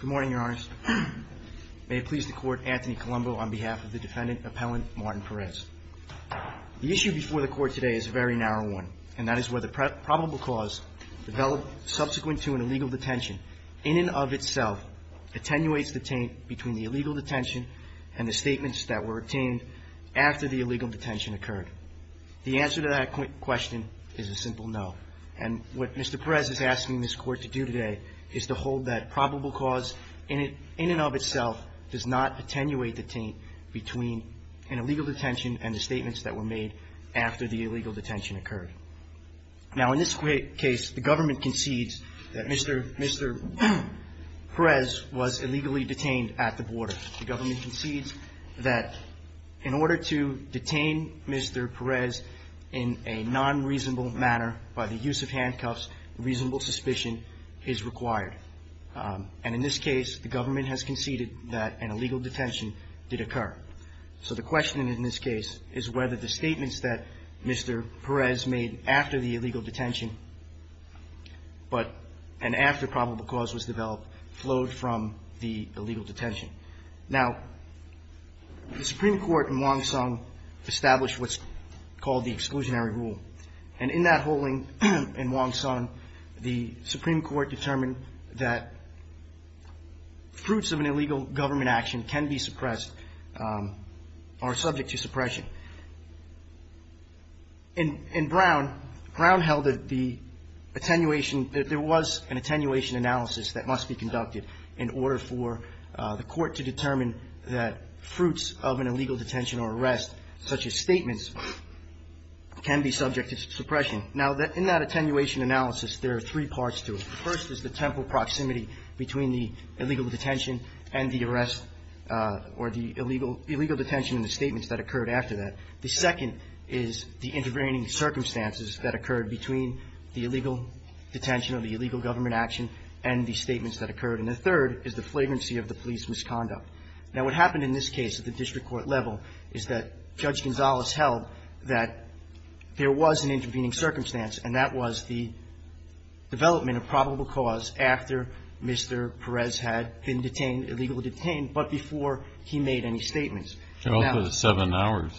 Good morning, Your Honor. May it please the Court, Anthony Colombo on behalf of the defendant, Appellant Martin Perez. The issue before the Court today is a very narrow one, and that is where the probable cause developed subsequent to an illegal detention in and of itself attenuates the taint between the illegal detention and the statements that were obtained after the illegal detention occurred. The answer to that question is a simple no. And what Mr. Perez is asking this Court to do is to hold that probable cause in and of itself does not attenuate the taint between an illegal detention and the statements that were made after the illegal detention occurred. Now, in this case, the government concedes that Mr. Perez was illegally detained at the border. The government concedes that in order to detain Mr. Perez in a non-reasonable manner by the use of handcuffs, reasonable suspicion is required. And in this case, the government has conceded that an illegal detention did occur. So the question in this case is whether the statements that Mr. Perez made after the illegal detention and after probable cause was developed flowed from the illegal detention. Now, the Supreme Court in Wong Song established what's called the exclusionary rule. And in that ruling in Wong Song, the Supreme Court determined that fruits of an illegal government action can be suppressed or subject to suppression. In Brown, Brown held that the attenuation, that there was an attenuation analysis that must be conducted in order for the Court to determine that fruits of an illegal detention or arrest, such as statements, can be subject to suppression. Now, in that attenuation analysis, there are three parts to it. The first is the temporal proximity between the illegal detention and the arrest or the illegal detention and the statements that occurred after that. The second is the intervening circumstances that occurred between the illegal detention or the illegal government action and the statements that occurred. And the third is the flagrancy of the police misconduct. Now, what happened in this case at the district court level is that Judge Gonzalez held that there was an intervening circumstance, and that was the development of probable cause after Mr. Perez had been detained, illegally detained, but before he made any statements. And also the seven hours.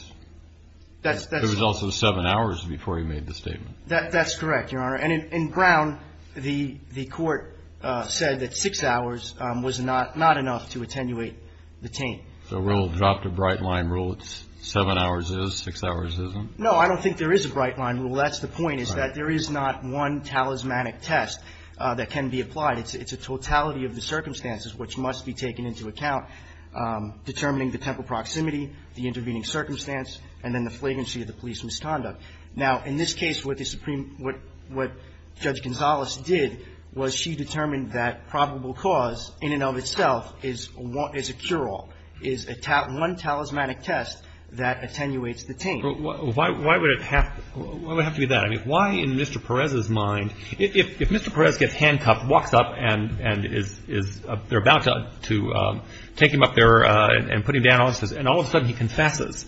It was also the seven hours before he made the statement. That's correct, Your Honor. And in Brown, the Court said that six hours was not enough to attenuate the taint. So we'll drop the bright-line rule. It's seven hours is, six hours isn't? No, I don't think there is a bright-line rule. That's the point, is that there is not one talismanic test that can be applied. It's a totality of the circumstances which must be taken into account, determining the temporal proximity, the intervening circumstance, and then the flagrancy of the police misconduct. Now, in this case, what the Supreme – what Judge Gonzalez did was she determined that probable cause in and of itself is a cure-all, is one talismanic test that attenuates the taint. But why would it have – why would it have to be that? I mean, why in Mr. Perez's mind – if Mr. Perez gets handcuffed, walks up, and is – they're about to take him up there and put him down, and all of a sudden he confesses,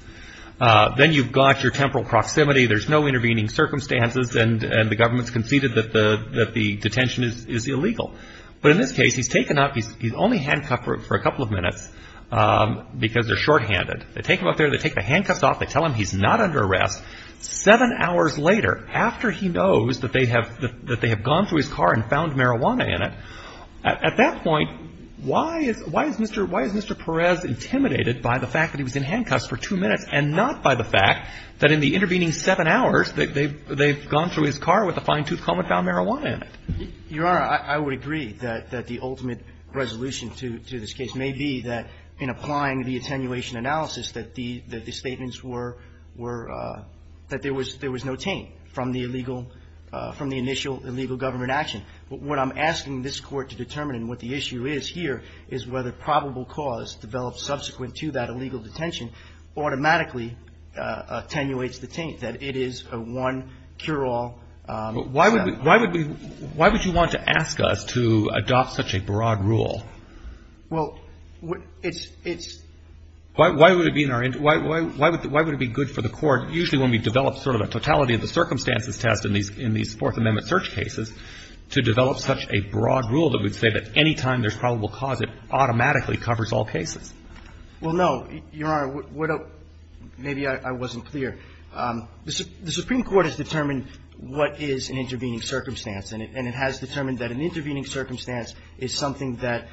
then you've got your temporal proximity, there's no intervening circumstances, and the government's conceded that the detention is illegal. But in this case, he's taken up – he's only handcuffed for a couple of minutes because they're shorthanded. They take him up there, they take the handcuffs off, they tell him he's not under arrest. Seven hours later, after he knows that they have gone through his car and found marijuana in it, at that point, why is Mr. Perez intimidated by the fact that he was in handcuffs for two minutes and not by the fact that in the intervening seven hours that they've gone through his car with a fine-tooth comb and found marijuana in it? Your Honor, I would agree that the ultimate resolution to this case may be that in applying the attenuation analysis that the statements were – that there was no taint from the illegal – from the initial illegal government action. What I'm asking this Court to determine and what the issue is here is whether probable cause developed subsequent to that illegal detention automatically attenuates the taint, that it is a one cure-all. But why would we – why would we – why would you want to ask us to adopt such a broad rule? Well, it's – it's – Why would it be in our – why would it be good for the Court, usually when we develop sort of a totality of the circumstances test in these Fourth Amendment search cases, to develop such a broad rule that we'd say that any time there's probable cause, it automatically covers all cases? Well, no. Your Honor, what – maybe I wasn't clear. The Supreme Court has determined what is an intervening circumstance, and it – and it has determined that an intervening circumstance is something that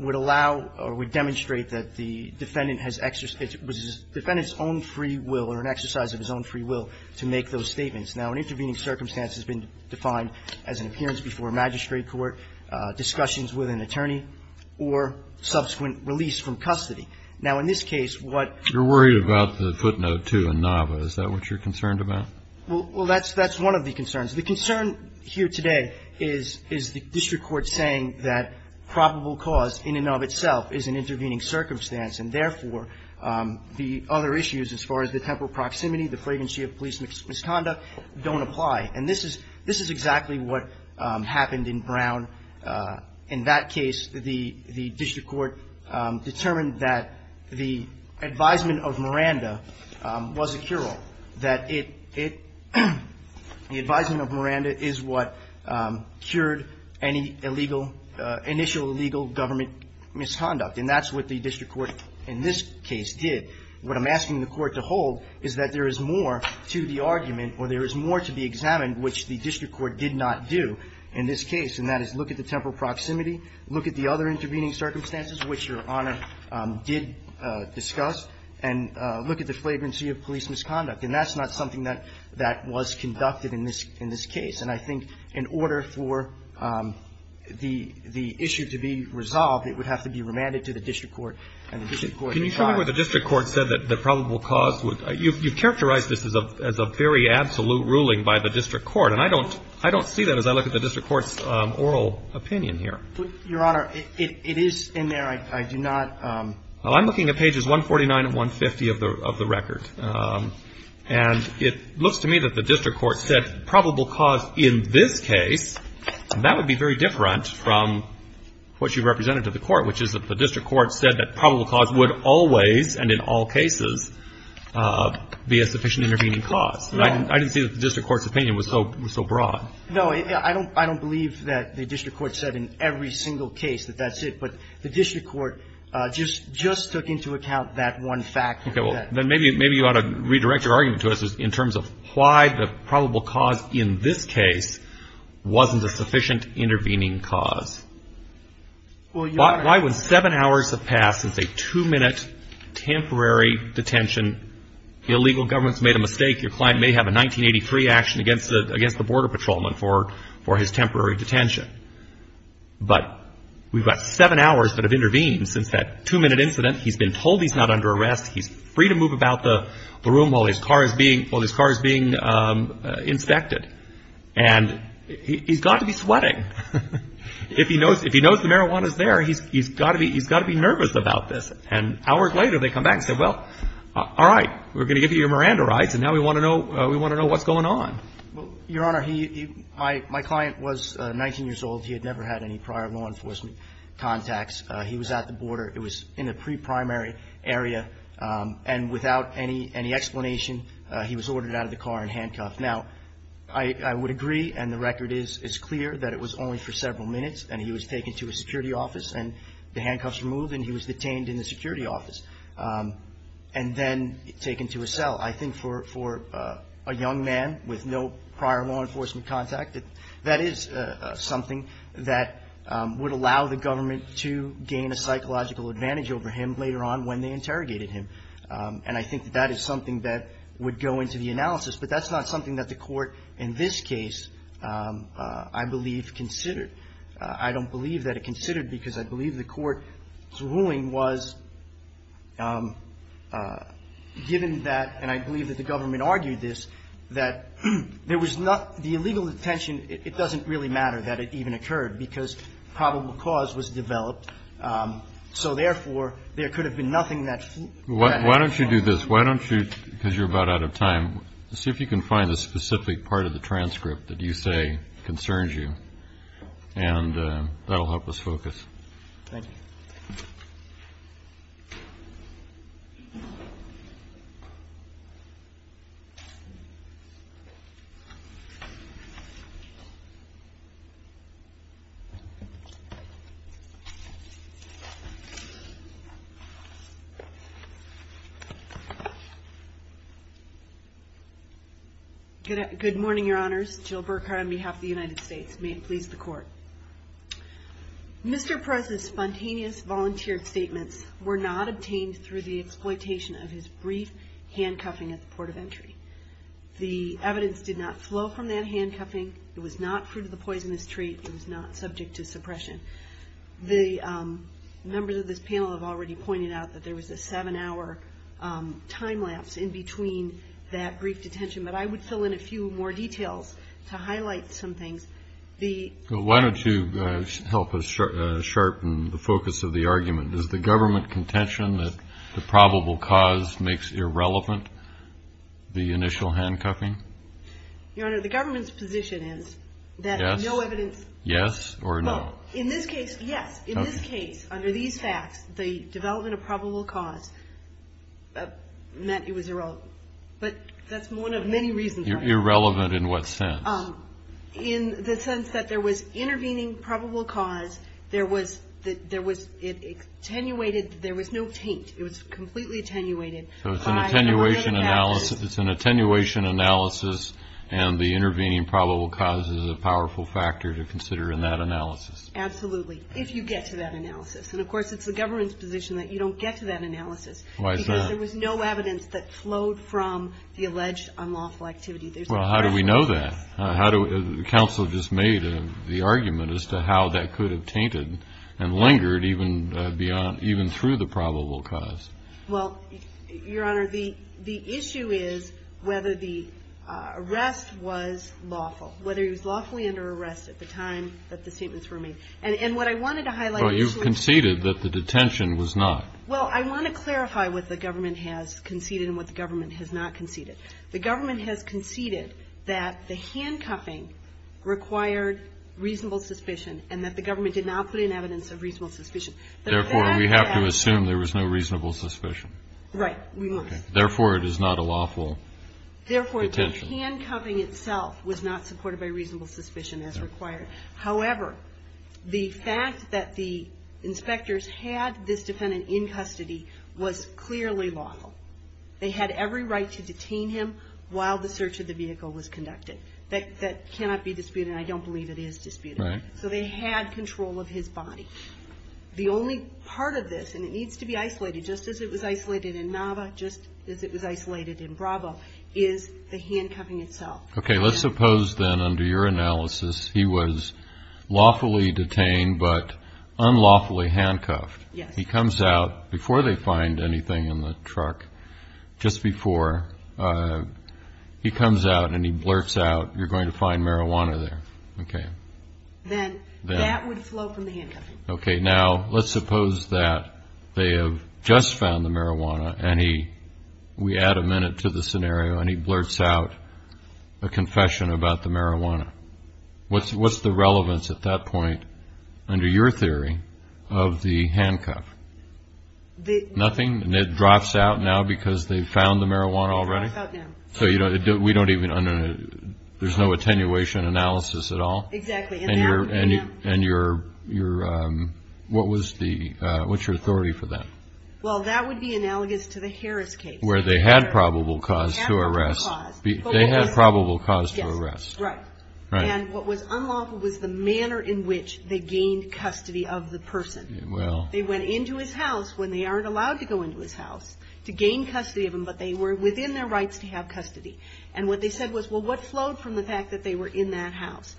would allow or would demonstrate that the defendant has – it was the defendant's own free will or an exercise of his own free will to make those statements. Now, an intervening circumstance has been defined as an appearance before a magistrate court, discussions with an attorney, or subsequent release from custody. Now, in this case, what – You're worried about the footnote, too, in Nava. Is that what you're concerned about? Well, that's – that's one of the concerns. The concern here today is – is the district court saying that probable cause in and of itself is an intervening circumstance, and therefore, the other issues as far as the temporal proximity, the flagrancy of police misconduct don't apply. And this is – this is exactly what happened in Brown. In that case, the – the district court determined that the advisement of Miranda was a cure-all, that it – the advisement of Miranda is what cured any illegal – initial illegal government misconduct. And that's what the district court in this case did. What I'm asking the Court to hold is that there is more to the argument, or there is more to be examined, which the district court did not do in this case, and that is look at the temporal proximity, look at the other intervening circumstances, which Your Honor did discuss, and look at the flagrancy of police misconduct. And that's not something that – that was conducted in this – in this case. And I think in order for the – the issue to be resolved, it would have to be remanded to the district court, and the district court – Can you show me where the district court said that probable cause would – you've characterized this as a very absolute ruling by the district court, and I don't – I don't see that as I look at the district court's oral opinion here. But, Your Honor, it is in there. I do not – Well, I'm looking at pages 149 and 150 of the record. And it looks to me that the district court said probable cause in this case, and that would be very different from what you've always, and in all cases, be a sufficient intervening cause. And I didn't – I didn't see that the district court's opinion was so – was so broad. No. I don't – I don't believe that the district court said in every single case that that's it. But the district court just – just took into account that one fact. Okay. Well, then maybe – maybe you ought to redirect your argument to us in terms of why the probable cause in this case wasn't a sufficient intervening cause. Well, Your Honor – Why would seven hours have passed since a two-minute temporary detention? The illegal government's made a mistake. Your client may have a 1983 action against the – against the border patrolman for – for his temporary detention. But we've got seven hours that have intervened since that two-minute incident. He's been told he's not under arrest. He's free to move about the room while his car is being – while his car is being inspected. And he's got to be sweating. If he knows – if he knows the marijuana's there, he's – he's got to be – he's got to be nervous about this. And hours later, they come back and say, well, all right, we're going to give you your Miranda rights. And now we want to know – we want to know what's going on. Well, Your Honor, he – my – my client was 19 years old. He had never had any prior law enforcement contacts. He was at the border. It was in a pre-primary area. And without any – any explanation, he was ordered out of the car and handcuffed. Now, I would agree, and the record is clear, that it was only for several minutes, and he was taken to a security office, and the handcuffs were removed, and he was detained in the security office and then taken to a cell. I think for a young man with no prior law enforcement contact, that is something that would allow the government to gain a psychological advantage over him later on when they interrogated him. And I think that is something that would go into the analysis. But that's not something that the Court in this case, I believe, considered. I don't believe that it considered because I believe the Court's ruling was given that – and I believe that the government argued this – that there was not – the illegal detention, it doesn't really matter that it even occurred because probable cause was developed. So, therefore, there could have been nothing that – Kennedy. Why don't you do this? Why don't you – because you're about out of time. See if you can find the specific part of the transcript that you say concerns you, and that will help us focus. Thank you. Good morning, Your Honors. Jill Burkhart on behalf of the United States. May it please the Court. Mr. Perez's spontaneous volunteered statements were not obtained through the exploitation of his brief handcuffing at the port of entry. The evidence did not flow from that handcuffing. It was not fruit of the poisonous tree. It was not subject to suppression. The members of this panel have already pointed out that there was a seven-hour time lapse in between that brief detention, but I would fill in a few more details to highlight some things. The – Why don't you help us sharpen the focus of the argument? Does the government contention that the probable cause makes irrelevant the initial handcuffing? Your Honor, the government's position is that no evidence – Yes or no? In this case, yes. In this case, under these facts, the development of probable cause meant it was irrelevant. But that's one of many reasons – Irrelevant in what sense? In the sense that there was intervening probable cause, there was – it attenuated – there was no taint. It was completely attenuated. So it's an attenuation analysis – It's an attenuation analysis, and the intervening probable cause is a powerful factor to consider in that analysis. Absolutely, if you get to that analysis. And of course, it's the government's position that you don't get to that analysis. Why is that? Because there was no evidence that flowed from the alleged unlawful activity. Well, how do we know that? How do – the counsel just made the argument as to how that could have tainted and lingered even beyond – even through the probable cause. Well, Your Honor, the issue is whether the arrest was lawful, whether he was lawfully under arrest at the time that the statements were made. And what I wanted to highlight – But you conceded that the detention was not. Well, I want to clarify what the government has conceded and what the government has not conceded. The government has conceded that the handcuffing required reasonable suspicion, and that the government did not put in evidence of reasonable suspicion. Therefore, we have to assume there was no reasonable suspicion. Right, we must. Therefore, it is not a lawful detention. Therefore, the handcuffing itself was not supported by reasonable suspicion as required. However, the fact that the inspectors had this defendant in custody was clearly lawful. They had every right to detain him while the search of the vehicle was conducted. That cannot be disputed, and I don't believe it is disputed. Right. So they had control of his body. The only part of this – and it needs to be isolated, just as it was isolated in Nava, just as it was isolated in Bravo – is the handcuffing itself. Okay, let's suppose then, under your analysis, he was lawfully detained but unlawfully handcuffed. Yes. He comes out, before they find anything in the truck, just before, he comes out and he blurts out, you're going to find marijuana there. Okay. Then that would flow from the handcuffing. Okay, now let's suppose that they have just found the marijuana and he – we add a minute to the scenario and he blurts out a confession about the marijuana. What's the relevance at that point, under your theory, of the handcuff? The – Nothing? And it drops out now because they've found the marijuana already? It drops out now. So you don't – we don't even – there's no attenuation analysis at all? Exactly. And you're – what was the – what's your authority for that? Well, that would be analogous to the Harris case. Where they had probable cause to arrest. They had probable cause. They had probable cause to arrest. Right. And what was unlawful was the manner in which they gained custody of the person. Well – They went into his house, when they aren't allowed to go into his house, to gain custody of him, but they were within their rights to have custody. And what they said was, well, what flowed from the fact that they were in that house?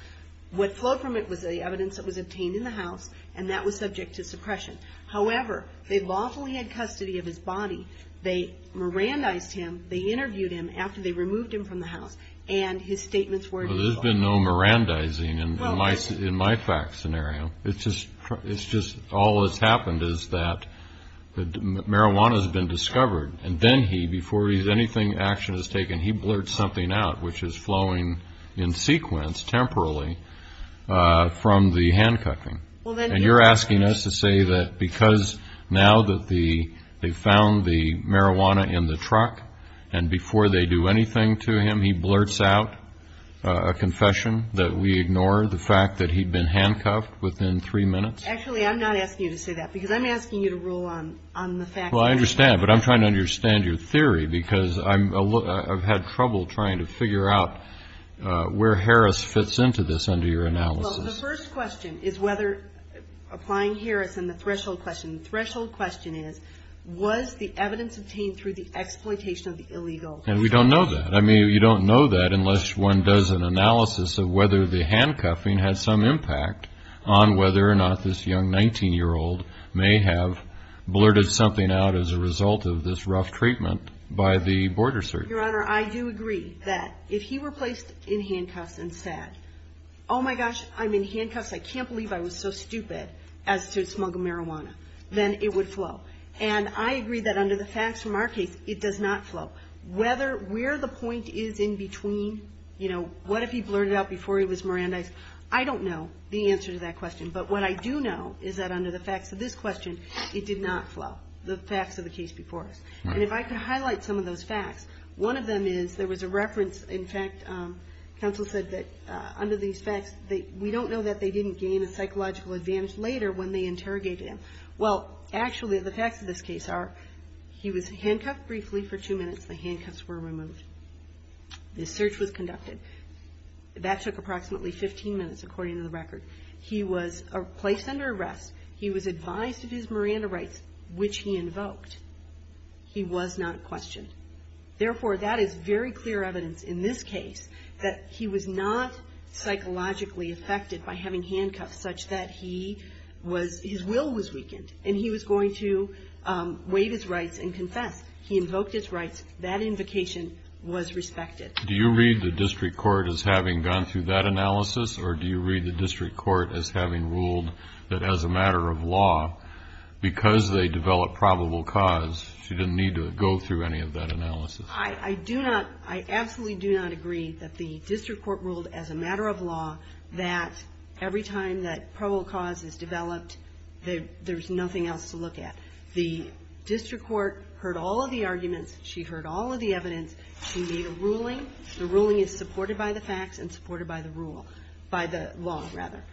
What flowed from it was the evidence that was obtained in the house, and that was subject to suppression. However, they lawfully had custody of his body. They Mirandized him. They interviewed him after they removed him from the house. And his statements were legal. Well, there's been no Mirandizing in my fact scenario. It's just – all that's happened is that the marijuana has been discovered, and then he, before anything action is taken, he blurts something out, which is flowing in sequence, temporally, from the handcuffing. Well, then – And you're asking us to say that because now that the – they found the marijuana in the truck, and before they do anything to him, he blurts out a confession that we ignore, the fact that he'd been handcuffed within three minutes? Actually, I'm not asking you to say that, because I'm asking you to rule on the fact that – Well, I understand, but I'm trying to understand your theory, because I'm – I've had trouble trying to figure out where Harris fits into this under your analysis. Well, the first question is whether – applying Harris and the threshold question. The threshold question is, was the evidence obtained through the exploitation of the illegal? And we don't know that. You don't know that unless one does an analysis of whether the handcuffing had some impact on whether or not this young 19-year-old may have blurted something out as a result of this rough treatment by the border search. Your Honor, I do agree that if he were placed in handcuffs and said, oh my gosh, I'm in handcuffs, I can't believe I was so stupid as to smuggle marijuana, then it would flow. And I agree that under the facts from our case, it does not flow. Whether – where the point is in between, you know, what if he blurted out before he was Mirandized, I don't know the answer to that question. But what I do know is that under the facts of this question, it did not flow, the facts of the case before us. And if I could highlight some of those facts, one of them is there was a reference – in fact, counsel said that under these facts, we don't know that they didn't gain a psychological advantage later when they interrogated him. Well, actually, the facts of this case are he was handcuffed briefly for two minutes. The handcuffs were removed. The search was conducted. That took approximately 15 minutes, according to the record. He was placed under arrest. He was advised of his Miranda rights, which he invoked. He was not questioned. Therefore, that is very clear evidence in this case that he was not psychologically affected by having handcuffs such that he was – his will was weakened. And he was going to waive his rights and confess. He invoked his rights. That invocation was respected. Do you read the district court as having gone through that analysis, or do you read the district court as having ruled that as a matter of law, because they developed probable cause, she didn't need to go through any of that analysis? I do not – I absolutely do not agree that the district court ruled as a matter of law that every time that probable cause is developed, there's nothing else to look at. The district court heard all of the arguments. She heard all of the evidence. She made a ruling. The ruling is supported by the facts and supported by the rule – by the law, rather.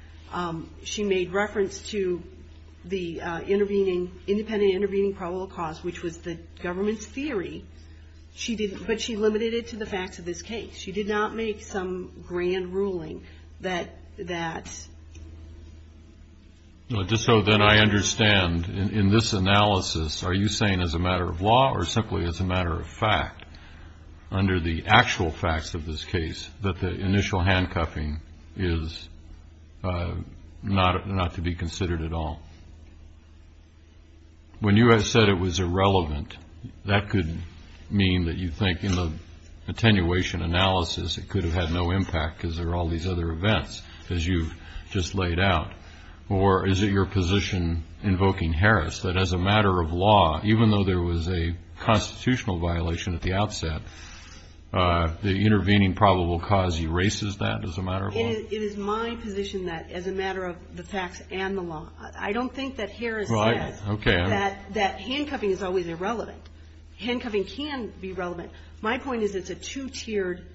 She made reference to the intervening – independent intervening probable cause, which was the government's theory. She didn't – but she limited it to the facts of this case. She did not make some grand ruling that – that – No, just so that I understand, in this analysis, are you saying as a matter of law or simply as a matter of fact, under the actual facts of this case, that the initial handcuffing is not – not to be considered at all? When you have said it was irrelevant, that could mean that you think in the attenuation analysis, it could have had no impact because there are all these other events, as you've just laid out. Or is it your position, invoking Harris, that as a matter of law, even though there was a constitutional violation at the outset, the intervening probable cause erases that as a matter of law? It is my position that, as a matter of the facts and the law, I don't think that Harris said that handcuffing is always irrelevant. Handcuffing can be relevant. My point is it's a two-tiered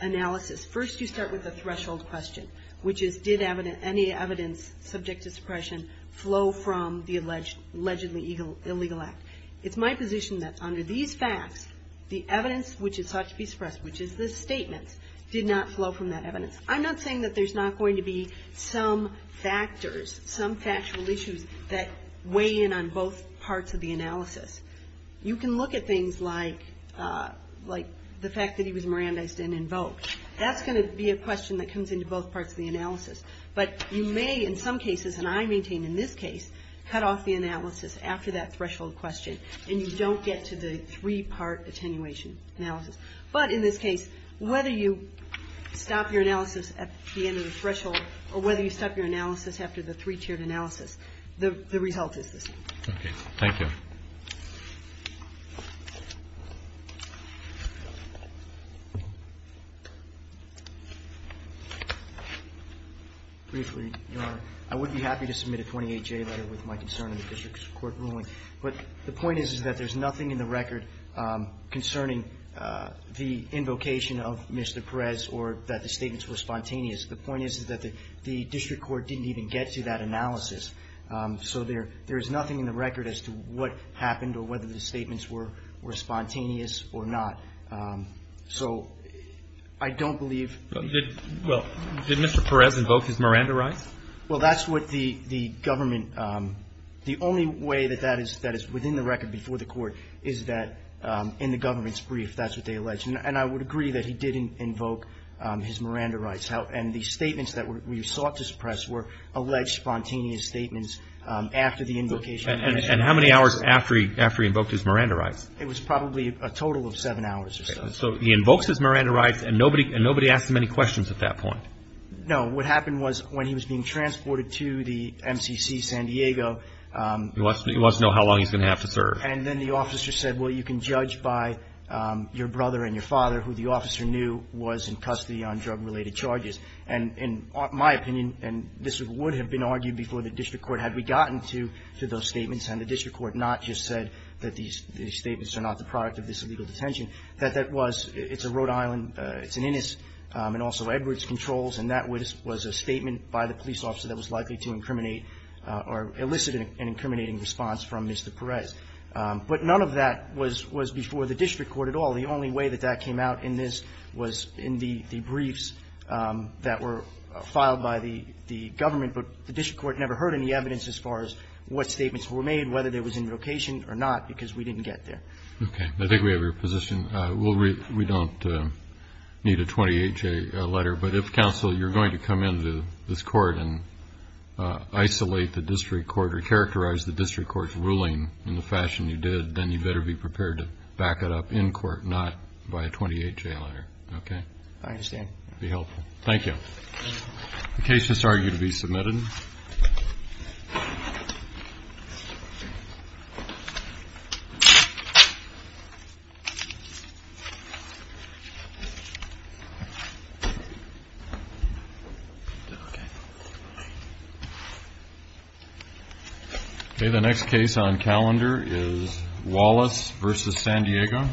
analysis. First, you start with the threshold question. Did any evidence subject to suppression flow from the allegedly illegal act? It's my position that under these facts, the evidence which is thought to be suppressed, which is this statement, did not flow from that evidence. I'm not saying that there's not going to be some factors, some factual issues that weigh in on both parts of the analysis. You can look at things like the fact that he was Mirandized and invoked. That's going to be a question that comes into both parts of the analysis. But you may, in some cases, and I maintain in this case, cut off the analysis after that threshold question, and you don't get to the three-part attenuation analysis. But in this case, whether you stop your analysis at the end of the threshold or whether you stop your analysis after the three-tiered analysis, the result is the same. Okay. Thank you. Briefly, Your Honor, I would be happy to submit a 28-J letter with my concern of the district court ruling. But the point is that there's nothing in the record concerning the invocation of Mr. Perez or that the statements were spontaneous. The point is that the district court didn't even get to that analysis. So there is nothing in the record as to what happened or whether the statements were spontaneous or not. So I don't believe... Well, did Mr. Perez invoke his Miranda rights? Well, that's what the government... The only way that that is within the record before the court is that in the government's brief, that's what they allege. And I would agree that he did invoke his Miranda rights. And the statements that we sought to suppress were alleged spontaneous statements after the invocation. And how many hours after he invoked his Miranda rights? It was probably a total of seven hours or so. So he invokes his Miranda rights, and nobody asked him any questions at that point? No. What happened was when he was being transported to the MCC San Diego... He wants to know how long he's going to have to serve. And then the officer said, well, you can judge by your brother and your father, who the officer knew was in custody on drug-related charges. And in my opinion, and this would have been argued before the district court had we gotten to those statements, and the district court not just said that these statements are not the product of this illegal detention, that that was... It's a Rhode Island... It's an Innis, and also Edwards Controls, and that was a statement by the police officer that was likely to incriminate or elicit an incriminating response from Mr. Perez. But none of that was before the district court at all. The only way that that came out in this was in the briefs that were filed by the government. But the district court never heard any evidence as far as what statements were made, whether there was invocation or not, because we didn't get there. Okay. I think we have your position. We don't need a 28-J letter. But if, counsel, you're going to come into this court and isolate the district court or characterize the district court's ruling in the fashion you did, then you better be prepared to back it up in court, not by a 28-J letter. Okay? I understand. Be helpful. Thank you. The case has argued to be submitted. Okay. Okay. The next case on calendar is Wallace v. San Diego. Thank you.